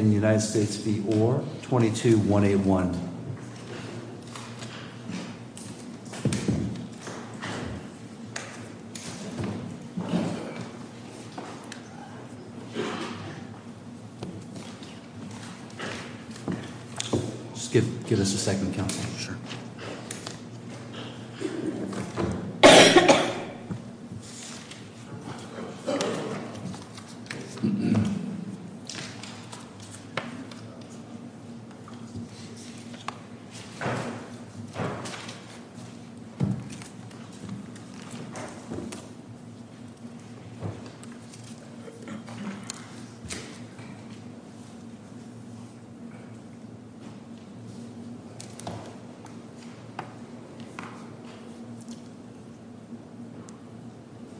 22-1-A-1 Just give us a second, Counselor. Sure. Thank you.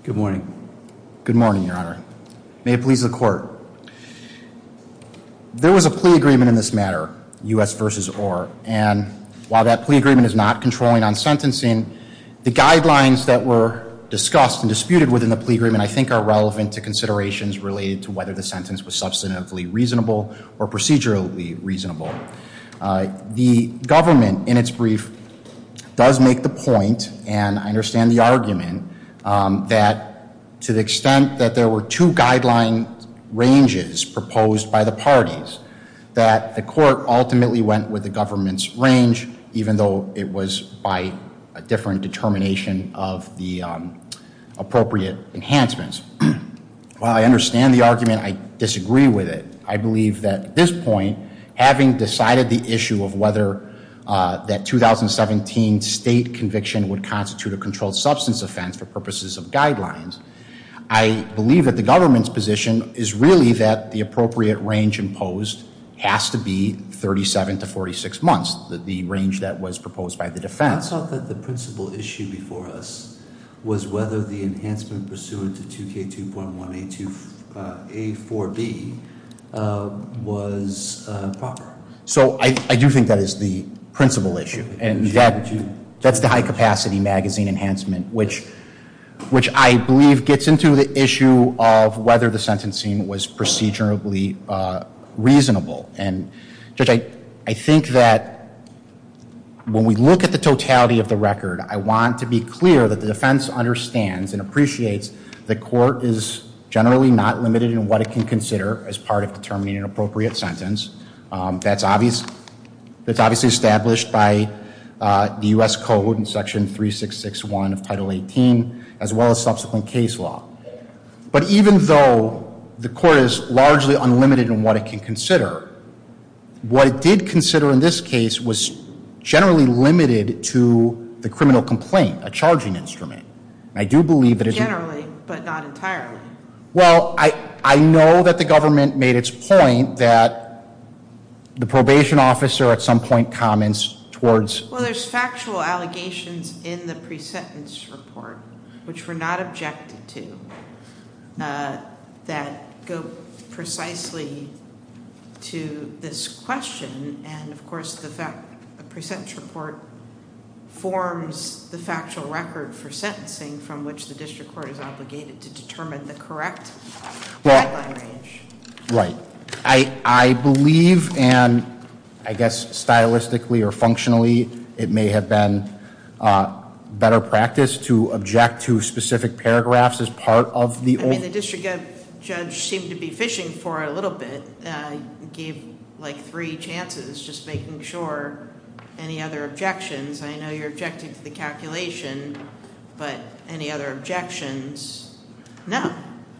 Good morning. Good morning, Your Honor. May it please the Court. There was a plea agreement in this matter, U.S. v. Orr. And while that plea agreement is not controlling on sentencing, the guidelines that were discussed and disputed within the plea agreement, I think, are relevant to considerations related to whether the sentence was substantively reasonable or procedurally reasonable. The government, in its brief, does make the point, and I understand the argument, that to the extent that there were two guideline ranges proposed by the parties, that the Court ultimately went with the government's range, even though it was by a different determination of the appropriate enhancements. While I understand the argument, I disagree with it. I believe that, at this point, having decided the issue of whether that 2017 state conviction would constitute a controlled substance offense for purposes of guidelines, I believe that the government's position is really that the appropriate range imposed has to be 37 to 46 months, the range that was proposed by the defense. I thought that the principal issue before us was whether the enhancement pursuant to 2K2.1A4B was proper. So I do think that is the principal issue. And that's the high-capacity magazine enhancement, which I believe gets into the issue of whether the sentencing was procedurally reasonable. And, Judge, I think that when we look at the totality of the record, I want to be clear that the defense understands and appreciates that court is generally not limited in what it can consider as part of determining an appropriate sentence. That's obviously established by the U.S. Code in Section 3661 of Title 18, as well as subsequent case law. But even though the court is largely unlimited in what it can consider, what it did consider in this case was generally limited to the criminal complaint, a charging instrument. I do believe that it's- Generally, but not entirely. Well, I know that the government made its point that the probation officer at some point comments towards- Well, there's factual allegations in the pre-sentence report, which we're not objected to, that go precisely to this question. And, of course, the pre-sentence report forms the factual record for sentencing from which the district court is obligated to determine the correct deadline range. Right. I believe, and I guess stylistically or functionally, it may have been better practice to object to specific paragraphs as part of the- I mean, the district judge seemed to be fishing for it a little bit. Gave, like, three chances, just making sure. Any other objections? I know you're objecting to the calculation, but any other objections? No.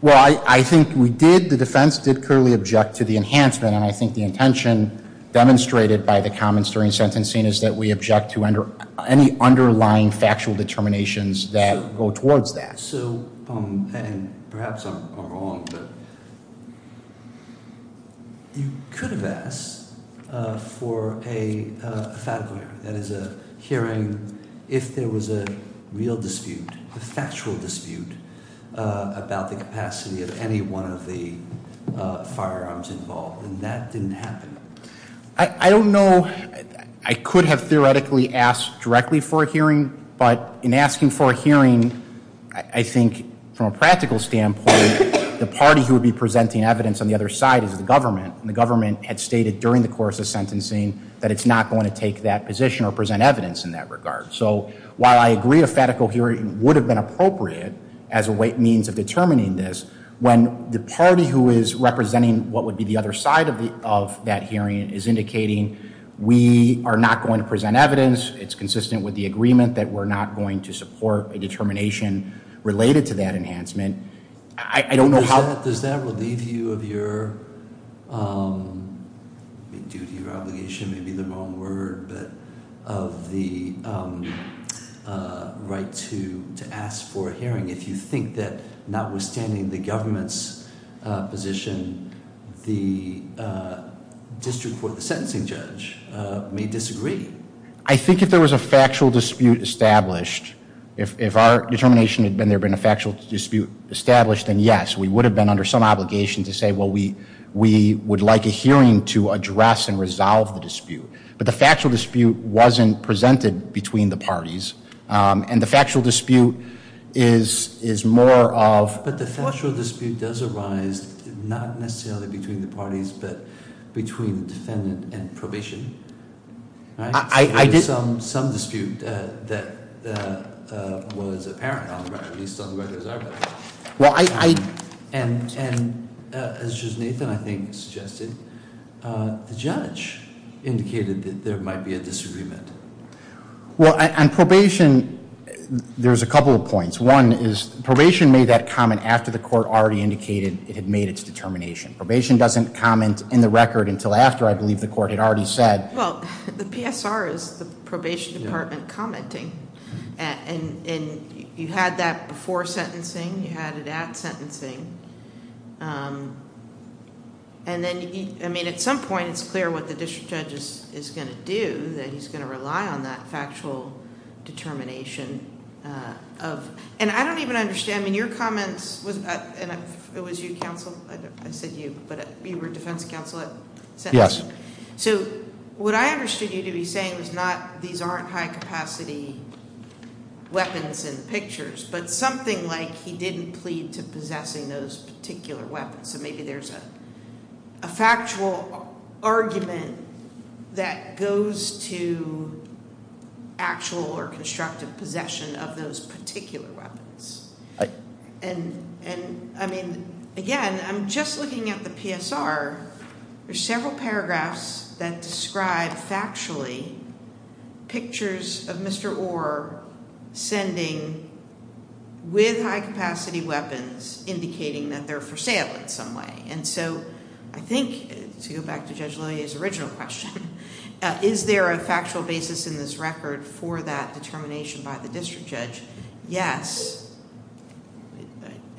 Well, I think we did, the defense did clearly object to the enhancement, and I think the intention demonstrated by the comments during sentencing is that we object to any underlying factual determinations that go towards that. So, and perhaps I'm wrong, but you could have asked for a fatique hearing. That is a hearing if there was a real dispute, a factual dispute, about the capacity of any one of the firearms involved, and that didn't happen. I don't know. I could have theoretically asked directly for a hearing, but in asking for a hearing, I think from a practical standpoint, the party who would be presenting evidence on the other side is the government, and the government had stated during the course of sentencing that it's not going to take that position or present evidence in that regard. So while I agree a fatical hearing would have been appropriate as a means of determining this, when the party who is representing what would be the other side of that hearing is indicating we are not going to present evidence, it's consistent with the agreement that we're not going to support a determination related to that enhancement, I don't know how- Does that relieve you of your duty or obligation, maybe the wrong word, of the right to ask for a hearing if you think that notwithstanding the government's position, the district court, the sentencing judge, may disagree? I think if there was a factual dispute established, if our determination had been there had been a factual dispute established, then yes, we would have been under some obligation to say, well, we would like a hearing to address and resolve the dispute. But the factual dispute wasn't presented between the parties, and the factual dispute is more of- But the factual dispute does arise not necessarily between the parties, but between the defendant and probation, right? There was some dispute that was apparent, at least on the record as our record. And as Judge Nathan, I think, suggested, the judge indicated that there might be a disagreement. Well, on probation, there's a couple of points. One is probation made that comment after the court already indicated it had made its determination. Probation doesn't comment in the record until after, I believe, the court had already said- Well, the PSR is the probation department commenting. And you had that before sentencing. You had it at sentencing. And then, I mean, at some point it's clear what the district judge is going to do, that he's going to rely on that factual determination of- And I don't even understand. I mean, your comments- It was you, counsel? I said you, but you were defense counsel at sentencing? Yes. So what I understood you to be saying is not these aren't high-capacity weapons in the pictures, but something like he didn't plead to possessing those particular weapons. So maybe there's a factual argument that goes to actual or constructive possession of those particular weapons. And, I mean, again, I'm just looking at the PSR. There's several paragraphs that describe factually pictures of Mr. Orr sending with high-capacity weapons, indicating that they're for sale in some way. And so I think, to go back to Judge Lillie's original question, is there a factual basis in this record for that determination by the district judge? Yes.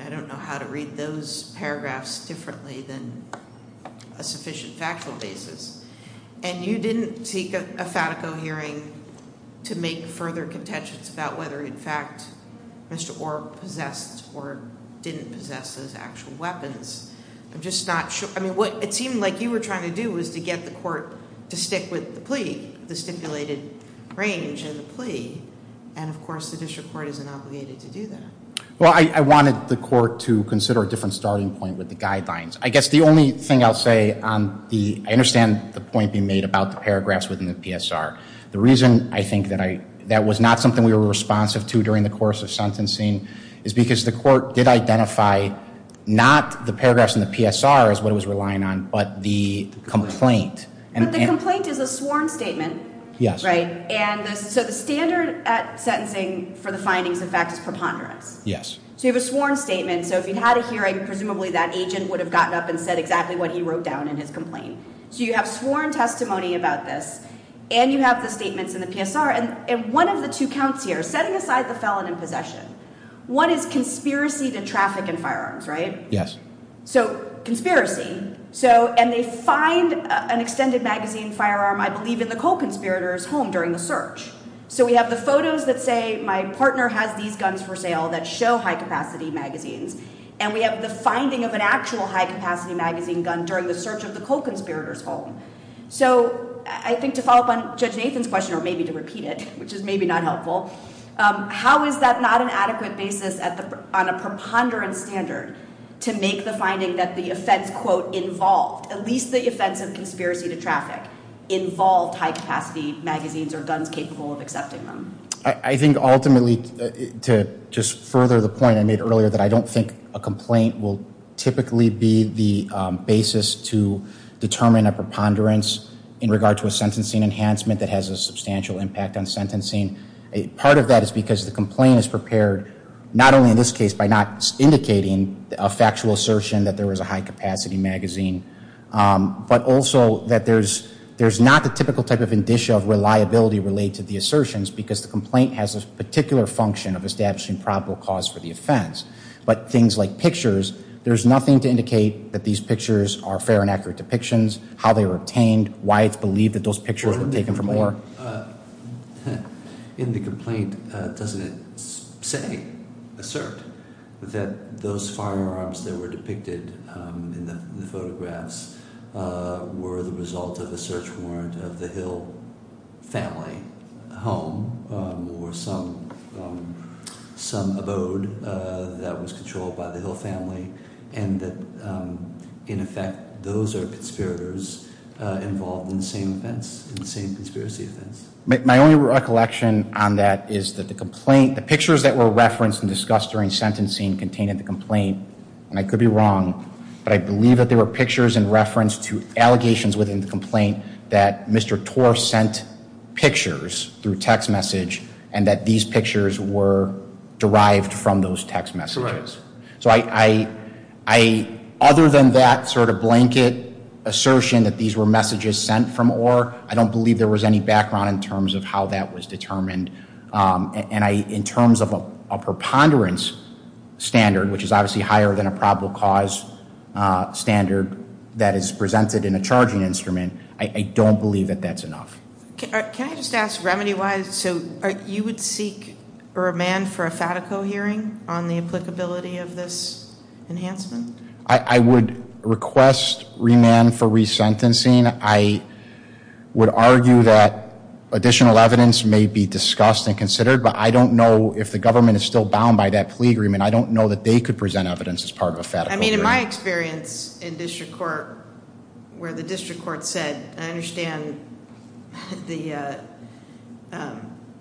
I don't know how to read those paragraphs differently than a sufficient factual basis. And you didn't seek a FATICO hearing to make further contentions about whether, in fact, Mr. Orr possessed or didn't possess those actual weapons. I'm just not sure. I mean, what it seemed like you were trying to do was to get the court to stick with the plea, the stipulated range of the plea. And, of course, the district court isn't obligated to do that. Well, I wanted the court to consider a different starting point with the guidelines. I guess the only thing I'll say on the – I understand the point being made about the paragraphs within the PSR. The reason I think that was not something we were responsive to during the course of sentencing is because the court did identify not the paragraphs in the PSR as what it was relying on, but the complaint. But the complaint is a sworn statement. Yes. Right? And so the standard at sentencing for the findings, in fact, is preponderance. Yes. So you have a sworn statement. So if you had a hearing, presumably that agent would have gotten up and said exactly what he wrote down in his complaint. So you have sworn testimony about this, and you have the statements in the PSR. And one of the two counts here, setting aside the felon in possession, one is conspiracy to traffic and firearms, right? Yes. So conspiracy. So – and they find an extended magazine firearm, I believe, in the co-conspirator's home during the search. So we have the photos that say my partner has these guns for sale that show high-capacity magazines, and we have the finding of an actual high-capacity magazine gun during the search of the co-conspirator's home. So I think to follow up on Judge Nathan's question, or maybe to repeat it, which is maybe not helpful, how is that not an adequate basis on a preponderance standard to make the finding that the offense, quote, involved, at least the offense of conspiracy to traffic, involved high-capacity magazines or guns capable of accepting them? I think ultimately, to just further the point I made earlier, that I don't think a complaint will typically be the basis to determine a preponderance in regard to a sentencing enhancement that has a substantial impact on sentencing. Part of that is because the complaint is prepared, not only in this case, by not indicating a factual assertion that there was a high-capacity magazine, but also that there's not the typical type of indicia of reliability related to the assertions because the complaint has a particular function of establishing probable cause for the offense. But things like pictures, there's nothing to indicate that these pictures are fair and accurate depictions, how they were obtained, why it's believed that those pictures were taken from there. In the complaint, doesn't it say, assert, that those firearms that were depicted in the photographs were the result of a search warrant of the Hill family home or some abode that was controlled by the Hill family and that, in effect, those are conspirators involved in the same events, the same conspiracy events? My only recollection on that is that the complaint, the pictures that were referenced and discussed during sentencing contained in the complaint, and I could be wrong, but I believe that there were pictures in reference to allegations within the complaint that Mr. Torr sent pictures through text message and that these pictures were derived from those text messages. So other than that sort of blanket assertion that these were messages sent from Orr, I don't believe there was any background in terms of how that was determined. And in terms of a preponderance standard, which is obviously higher than a probable cause standard that is presented in a charging instrument, I don't believe that that's enough. Can I just ask remedy-wise, so you would seek remand for a FATICO hearing on the applicability of this enhancement? I would request remand for resentencing. I would argue that additional evidence may be discussed and considered, but I don't know if the government is still bound by that plea agreement. I don't know that they could present evidence as part of a FATICO hearing. I mean, in my experience in district court, where the district court said, I understand the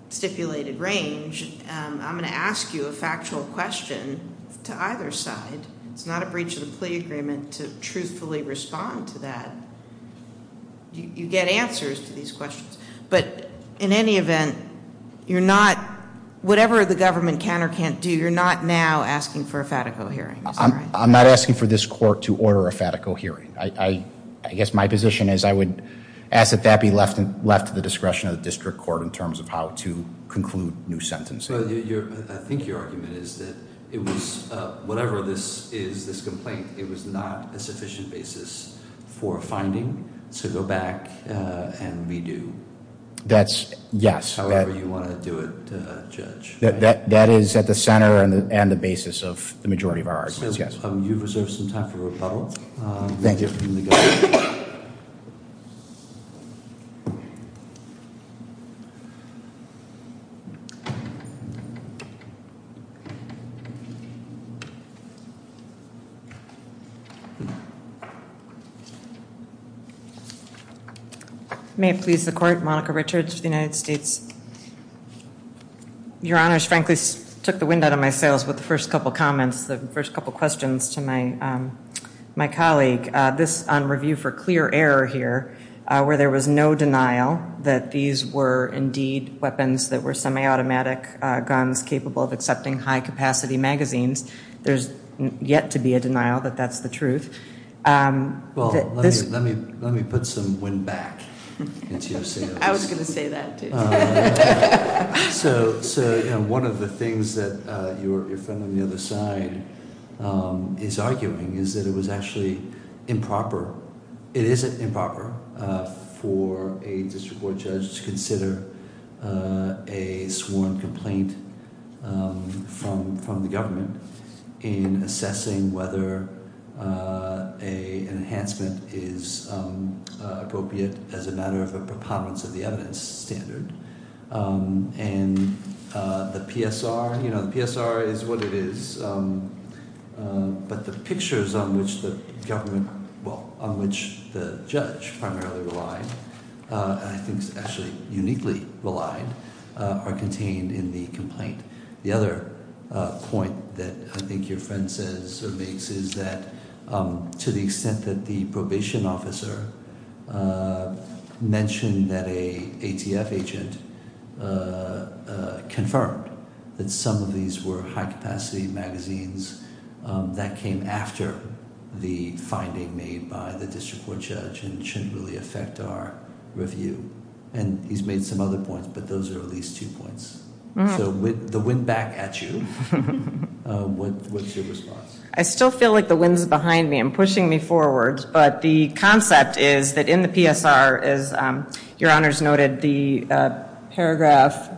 stipulated range, I'm going to ask you a factual question to either side. It's not a breach of the plea agreement to truthfully respond to that. You get answers to these questions. But in any event, you're not, whatever the government can or can't do, you're not now asking for a FATICO hearing. I'm not asking for this court to order a FATICO hearing. I guess my position is I would ask that that be left to the discretion of the district court in terms of how to conclude new sentences. I think your argument is that it was, whatever this is, this complaint, it was not a sufficient basis for finding to go back and redo. That's, yes. However you want to do it, Judge. That is at the center and the basis of the majority of our arguments, yes. You've reserved some time for rebuttal. Thank you. May it please the court, Monica Richards for the United States. Your Honor, I frankly took the wind out of my sails with the first couple comments, the first couple questions to my colleague. This on review for clear error here, where there was no denial that these were indeed weapons that were semi-automatic guns capable of accepting high-capacity magazines. There's yet to be a denial that that's the truth. Well, let me put some wind back. I was going to say that too. So one of the things that your friend on the other side is arguing is that it was actually improper, it isn't improper for a district court judge to consider a sworn complaint from the government in assessing whether an enhancement is appropriate as a matter of a preponderance of the evidence standard. And the PSR, you know, the PSR is what it is. But the pictures on which the government, well, on which the judge primarily relied, I think is actually uniquely relied, are contained in the complaint. The other point that I think your friend says or makes is that to the extent that the probation officer mentioned that an ATF agent confirmed that some of these were high-capacity magazines, that came after the finding made by the district court judge and shouldn't really affect our review. And he's made some other points, but those are at least two points. So the wind back at you. What's your response? I still feel like the wind's behind me and pushing me forward. But the concept is that in the PSR, as your honors noted, the paragraph,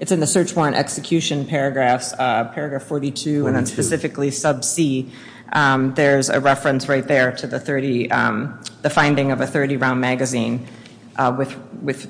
it's in the search warrant execution paragraphs, paragraph 42. 42. There's a reference right there to the finding of a 30-round magazine with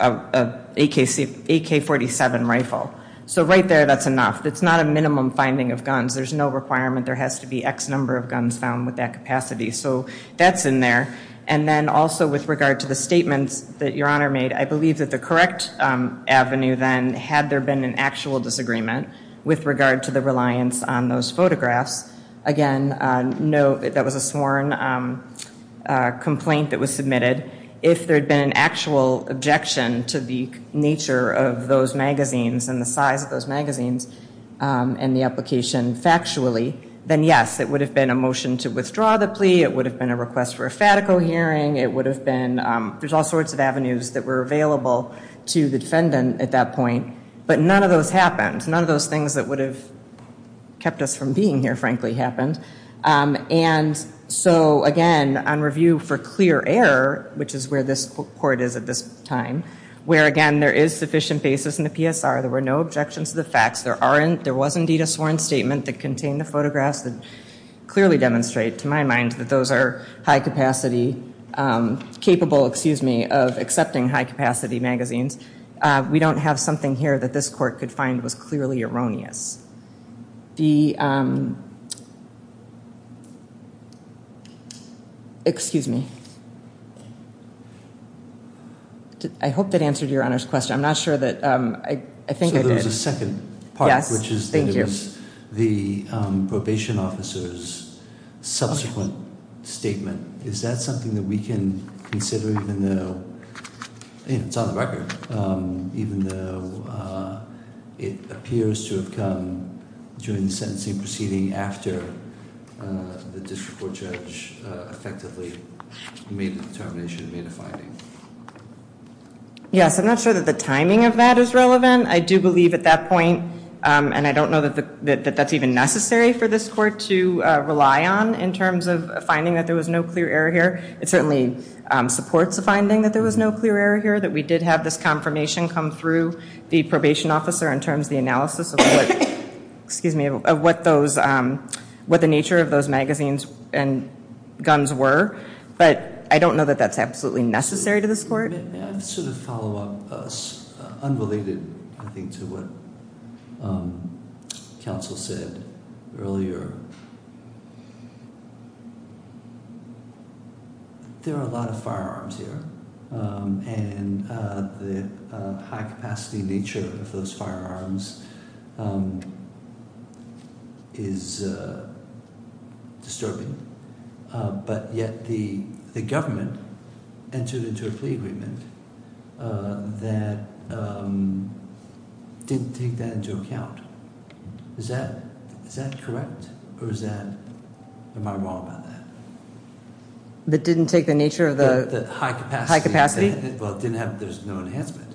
an AK-47 rifle. So right there, that's enough. That's not a minimum finding of guns. There's no requirement. There has to be X number of guns found with that capacity. So that's in there. And then also with regard to the statements that your honor made, I believe that the correct avenue then had there been an actual disagreement with regard to the reliance on those photographs. Again, note that was a sworn complaint that was submitted. If there had been an actual objection to the nature of those magazines and the size of those magazines and the application factually, then yes, it would have been a motion to withdraw the plea. It would have been a request for a FATICO hearing. There's all sorts of avenues that were available to the defendant at that point. But none of those happened. None of those things that would have kept us from being here, frankly, happened. And so again, on review for clear error, which is where this court is at this time, where again, there is sufficient basis in the PSR. There were no objections to the facts. There was indeed a sworn statement that contained the photographs that clearly demonstrate to my mind that those are capable of accepting high-capacity magazines. We don't have something here that this court could find was clearly erroneous. The – excuse me. I hope that answered your Honor's question. I'm not sure that – I think I did. So there was a second part, which is that it was the probation officer's subsequent statement. Is that something that we can consider even though – it's on the record. Even though it appears to have come during the sentencing proceeding after the district court judge effectively made the determination, made a finding. Yes, I'm not sure that the timing of that is relevant. I do believe at that point, and I don't know that that's even necessary for this court to rely on in terms of finding that there was no clear error here. It certainly supports the finding that there was no clear error here. That we did have this confirmation come through the probation officer in terms of the analysis of what those – what the nature of those magazines and guns were. But I don't know that that's absolutely necessary to this court. May I sort of follow up unrelated, I think, to what counsel said earlier? There are a lot of firearms here, and the high-capacity nature of those firearms is disturbing. But yet the government entered into a plea agreement that didn't take that into account. Is that correct, or is that – am I wrong about that? That didn't take the nature of the – The high-capacity. High-capacity. Well, it didn't have – there's no enhancement.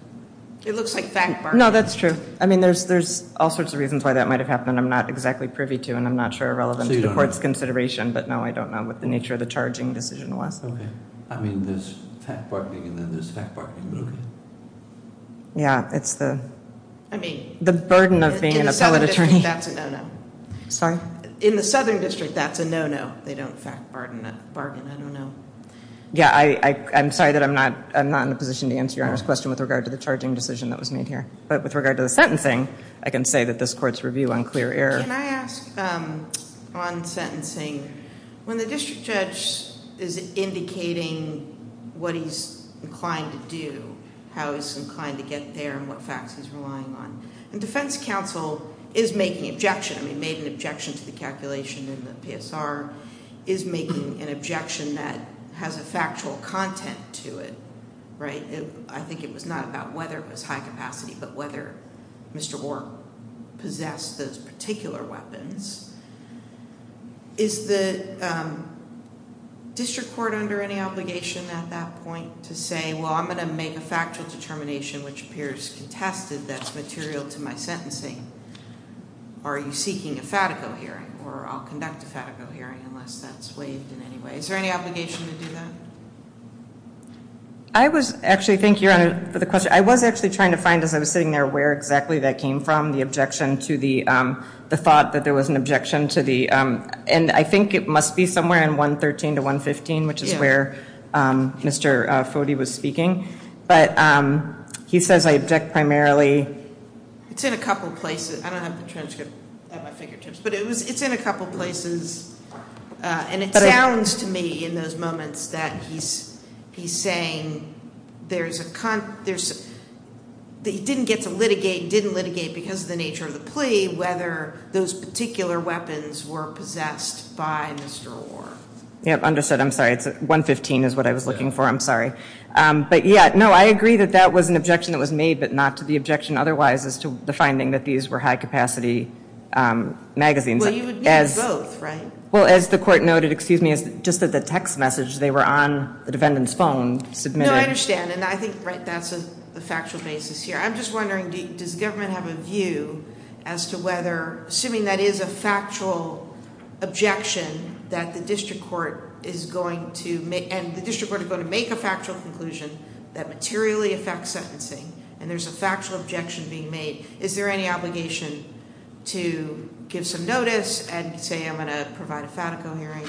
It looks like fact, Mark. No, that's true. I mean, there's all sorts of reasons why that might have happened. I'm not exactly privy to, and I'm not sure relevant to the court's consideration. But, no, I don't know what the nature of the charging decision was. Okay. I mean, there's fact-bargaining, and then there's fact-bargaining movement. Yeah, it's the – I mean – The burden of being an appellate attorney. In the Southern District, that's a no-no. Sorry? In the Southern District, that's a no-no. They don't fact-bargain, I don't know. Yeah, I'm sorry that I'm not in a position to answer Your Honor's question with regard to the charging decision that was made here. But with regard to the sentencing, I can say that this court's review unclear error. Can I ask on sentencing, when the district judge is indicating what he's inclined to do, how he's inclined to get there, and what facts he's relying on, and defense counsel is making an objection, I mean, made an objection to the calculation in the PSR, is making an objection that has a factual content to it, right? I think it was not about whether it was high-capacity, but whether Mr. Orr possessed those particular weapons. Is the district court under any obligation at that point to say, well, I'm going to make a factual determination which appears contested that's material to my sentencing, or are you seeking a fatico hearing, or I'll conduct a fatico hearing unless that's waived in any way. Is there any obligation to do that? I was actually, thank you, Your Honor, for the question. I was actually trying to find, as I was sitting there, where exactly that came from, the objection to the thought that there was an objection to the, and I think it must be somewhere in 113 to 115, which is where Mr. Foti was speaking. But he says I object primarily. It's in a couple places. I don't have the transcript at my fingertips. But it's in a couple places. And it sounds to me in those moments that he's saying there's a, that he didn't get to litigate, didn't litigate because of the nature of the plea whether those particular weapons were possessed by Mr. Orr. Yep, understood. I'm sorry. 115 is what I was looking for. I'm sorry. But, yeah, no, I agree that that was an objection that was made, but not to the objection otherwise as to the finding that these were high-capacity magazines. Well, you would need both, right? Well, as the court noted, excuse me, just that the text message, they were on the defendant's phone, submitted. No, I understand. And I think that's a factual basis here. I'm just wondering, does the government have a view as to whether, assuming that is a factual objection that the district court is going to make, make a factual conclusion that materially affects sentencing and there's a factual objection being made, is there any obligation to give some notice and say I'm going to provide a FATICO hearing?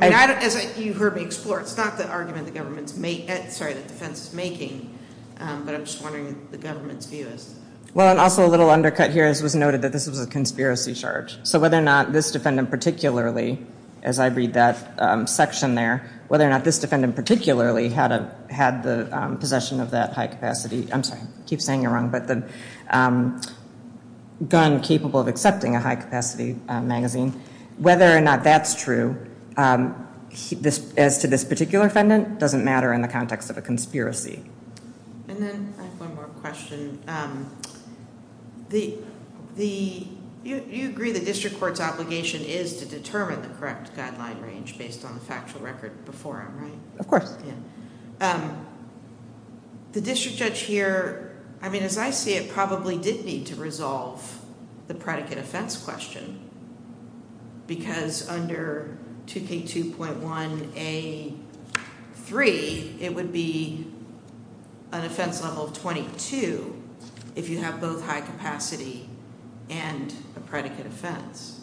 As you heard me explore, it's not the argument the government's making, sorry, the defense is making, but I'm just wondering what the government's view is. Well, and also a little undercut here was noted that this was a conspiracy charge. So whether or not this defendant particularly, as I read that section there, whether or not this defendant particularly had the possession of that high-capacity, I'm sorry, I keep saying it wrong, but the gun capable of accepting a high-capacity magazine, whether or not that's true as to this particular defendant doesn't matter in the context of a conspiracy. And then I have one more question. You agree the district court's obligation is to determine the correct guideline range based on the factual record before him, right? Of course. The district judge here, I mean, as I see it, probably did need to resolve the predicate offense question because under 2K2.1A3, it would be an offense level of 22 if you have both high-capacity and a predicate offense.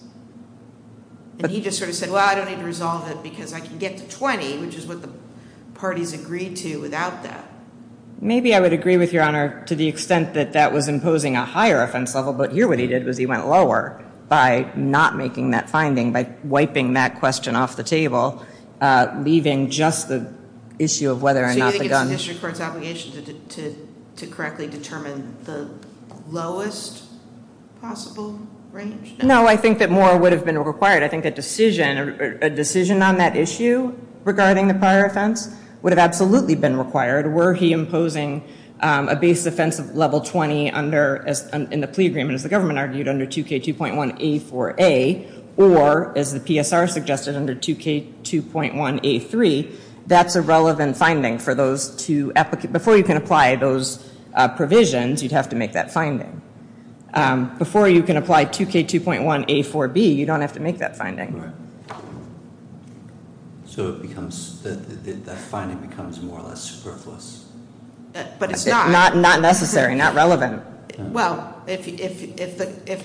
And he just sort of said, well, I don't need to resolve it because I can get to 20, which is what the parties agreed to without that. Maybe I would agree with Your Honor to the extent that that was imposing a higher offense level, but here what he did was he went lower by not making that finding, by wiping that question off the table, leaving just the issue of whether or not the gun. So you think it's the district court's obligation to correctly determine the lowest possible range? No, I think that more would have been required. I think a decision on that issue regarding the prior offense would have absolutely been required were he imposing a base offense of level 20 in the plea agreement, as the government argued, under 2K2.1A4A, or as the PSR suggested, under 2K2.1A3, that's a relevant finding for those two applicants. Before you can apply those provisions, you'd have to make that finding. Before you can apply 2K2.1A4B, you don't have to make that finding. Right. So it becomes, that finding becomes more or less superfluous. But it's not. Not necessary, not relevant. Well, if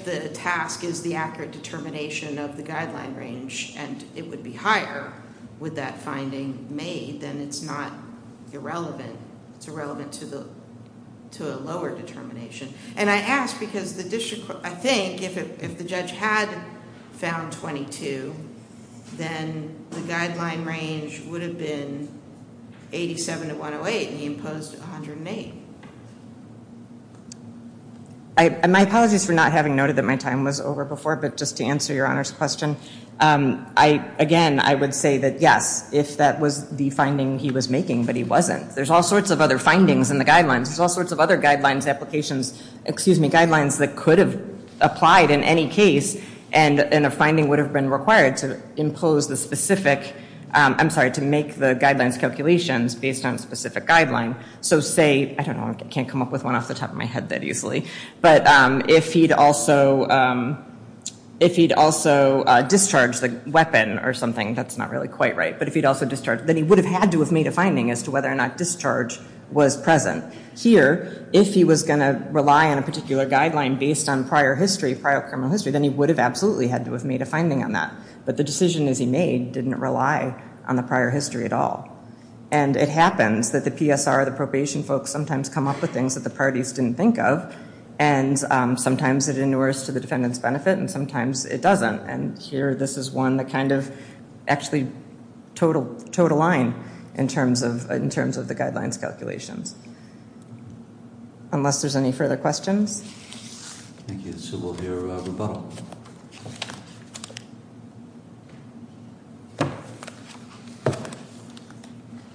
the task is the accurate determination of the guideline range and it would be higher with that finding made, then it's not irrelevant, it's irrelevant to a lower determination. And I ask because the district court, I think, if the judge had found 22, then the guideline range would have been 87 to 108, and he imposed 108. My apologies for not having noted that my time was over before, but just to answer Your Honor's question, again, I would say that yes, if that was the finding he was making, but he wasn't. There's all sorts of other findings in the guidelines. There's all sorts of other guidelines, applications, excuse me, guidelines that could have applied in any case, and a finding would have been required to impose the specific, I'm sorry, to make the guidelines calculations based on a specific guideline. So say, I don't know, I can't come up with one off the top of my head that easily, but if he'd also discharged the weapon or something, that's not really quite right, but if he'd also discharged, then he would have had to have made a finding as to whether or not discharge was present. Here, if he was going to rely on a particular guideline based on prior history, prior criminal history, then he would have absolutely had to have made a finding on that. But the decision as he made didn't rely on the prior history at all. And it happens that the PSR, the probation folks, sometimes come up with things that the parties didn't think of, and sometimes it inures to the defendant's benefit, and sometimes it doesn't. And here, this is one that kind of actually towed a line in terms of the guidelines calculations. Unless there's any further questions. Thank you. So we'll hear from Bob.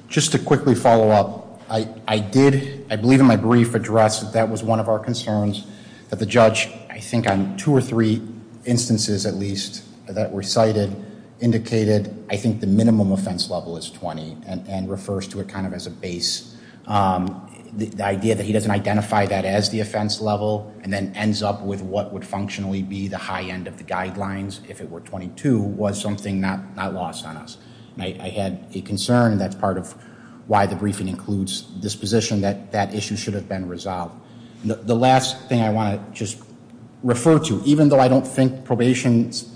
Just to quickly follow up, I did, I believe in my brief, address that that was one of our concerns, that the judge, I think on two or three instances at least that were cited, indicated I think the minimum offense level is 20, and refers to it kind of as a base. The idea that he doesn't identify that as the offense level, and then ends up with what would functionally be the high end of the guidelines, if it were 22, was something not lost on us. I had a concern, and that's part of why the briefing includes this position, that that issue should have been resolved. The last thing I want to just refer to, even though I don't think probation's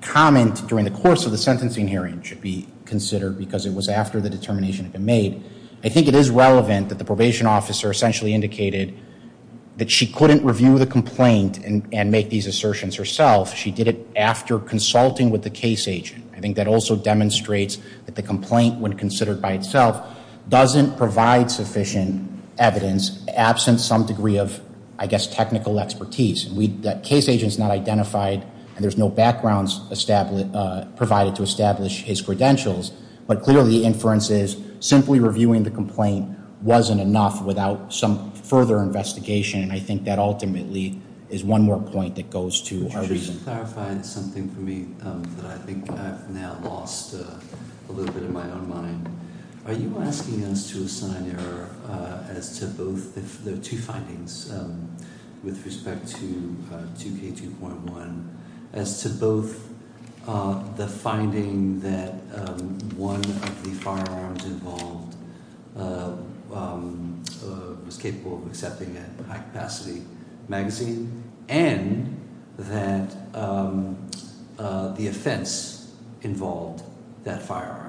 comment during the course of the sentencing hearing should be considered, because it was after the determination had been made, I think it is relevant that the probation officer essentially indicated that she couldn't review the complaint and make these assertions herself. She did it after consulting with the case agent. I think that also demonstrates that the complaint, when considered by itself, doesn't provide sufficient evidence, absent some degree of, I guess, technical expertise. The case agent's not identified, and there's no backgrounds provided to establish his credentials, but clearly the inference is simply reviewing the complaint wasn't enough without some further investigation, and I think that ultimately is one more point that goes to our reasoning. You clarified something for me that I think I've now lost a little bit of my own mind. Are you asking us to assign error as to both the two findings with respect to 2K2.1, as to both the finding that one of the firearms involved was capable of accepting a high-capacity magazine and that the offense involved that firearm,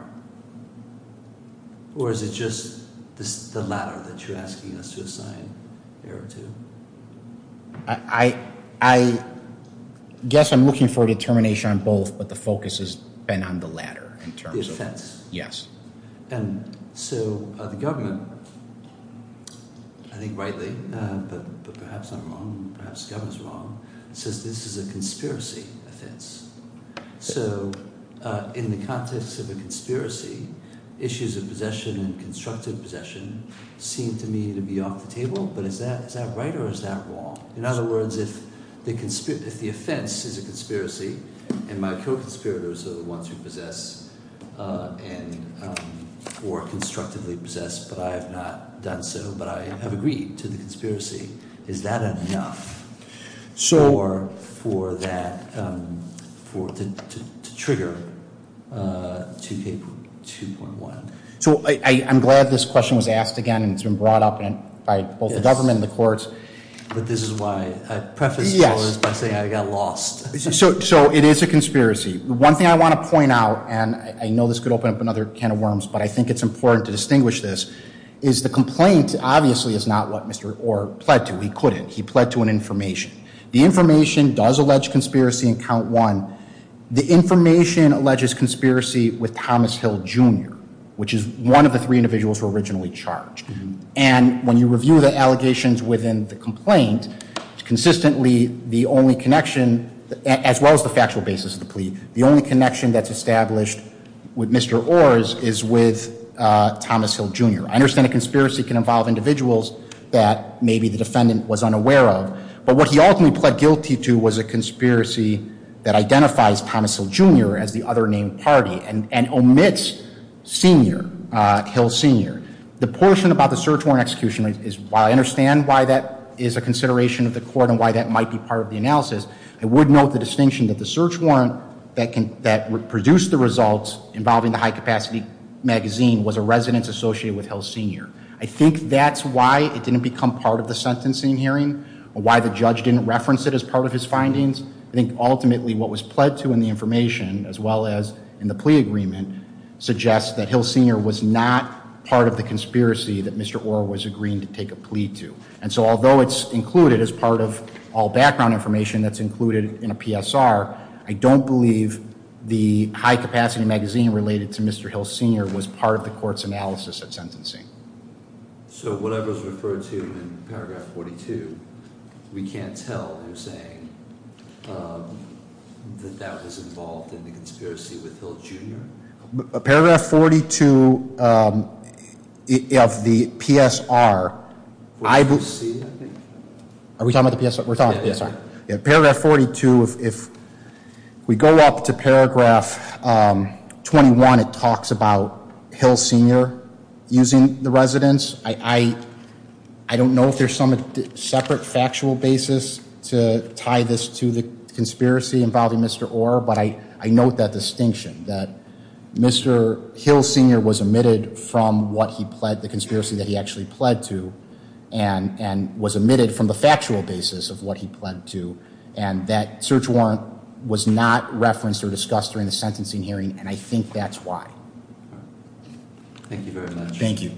or is it just the latter that you're asking us to assign error to? I guess I'm looking for determination on both, but the focus has been on the latter in terms of- The offense. Yes. So the government, I think rightly, but perhaps I'm wrong, perhaps the government's wrong, says this is a conspiracy offense. So in the context of a conspiracy, issues of possession and constructive possession seem to me to be off the table, but is that right or is that wrong? In other words, if the offense is a conspiracy and my co-conspirators are the ones who possess or constructively possess, but I have not done so, but I have agreed to the conspiracy, is that enough to trigger 2K2.1? So I'm glad this question was asked again and it's been brought up by both the government and the courts. But this is why I preface this by saying I got lost. So it is a conspiracy. One thing I want to point out, and I know this could open up another can of worms, but I think it's important to distinguish this, is the complaint obviously is not what Mr. Orr pled to. He couldn't. He pled to an information. The information does allege conspiracy in count one. The information alleges conspiracy with Thomas Hill Jr., which is one of the three individuals who were originally charged. And when you review the allegations within the complaint, consistently the only connection, as well as the factual basis of the plea, the only connection that's established with Mr. Orr is with Thomas Hill Jr. I understand a conspiracy can involve individuals that maybe the defendant was unaware of, but what he ultimately pled guilty to was a conspiracy that identifies Thomas Hill Jr. as the other named party and omits Hill Sr. The portion about the search warrant execution, while I understand why that is a consideration of the court and why that might be part of the analysis, I would note the distinction that the search warrant that produced the results involving the high-capacity magazine was a residence associated with Hill Sr. I think that's why it didn't become part of the sentencing hearing, why the judge didn't reference it as part of his findings. I think ultimately what was pled to in the information, as well as in the plea agreement, suggests that Hill Sr. was not part of the conspiracy that Mr. Orr was agreeing to take a plea to. And so although it's included as part of all background information that's included in a PSR, I don't believe the high-capacity magazine related to Mr. Hill Sr. was part of the court's analysis at sentencing. So whatever's referred to in Paragraph 42, we can't tell who's saying that that was involved in the conspiracy with Hill Jr.? Paragraph 42 of the PSR, I believe... Are we talking about the PSR? We're talking about the PSR. Paragraph 42, if we go up to Paragraph 21, it talks about Hill Sr. using the residence. I don't know if there's some separate factual basis to tie this to the conspiracy involving Mr. Orr, but I note that distinction that Mr. Hill Sr. was omitted from the conspiracy that he actually pled to and was omitted from the factual basis of what he pled to, and that search warrant was not referenced or discussed during the sentencing hearing, and I think that's why. Thank you very much. Thank you.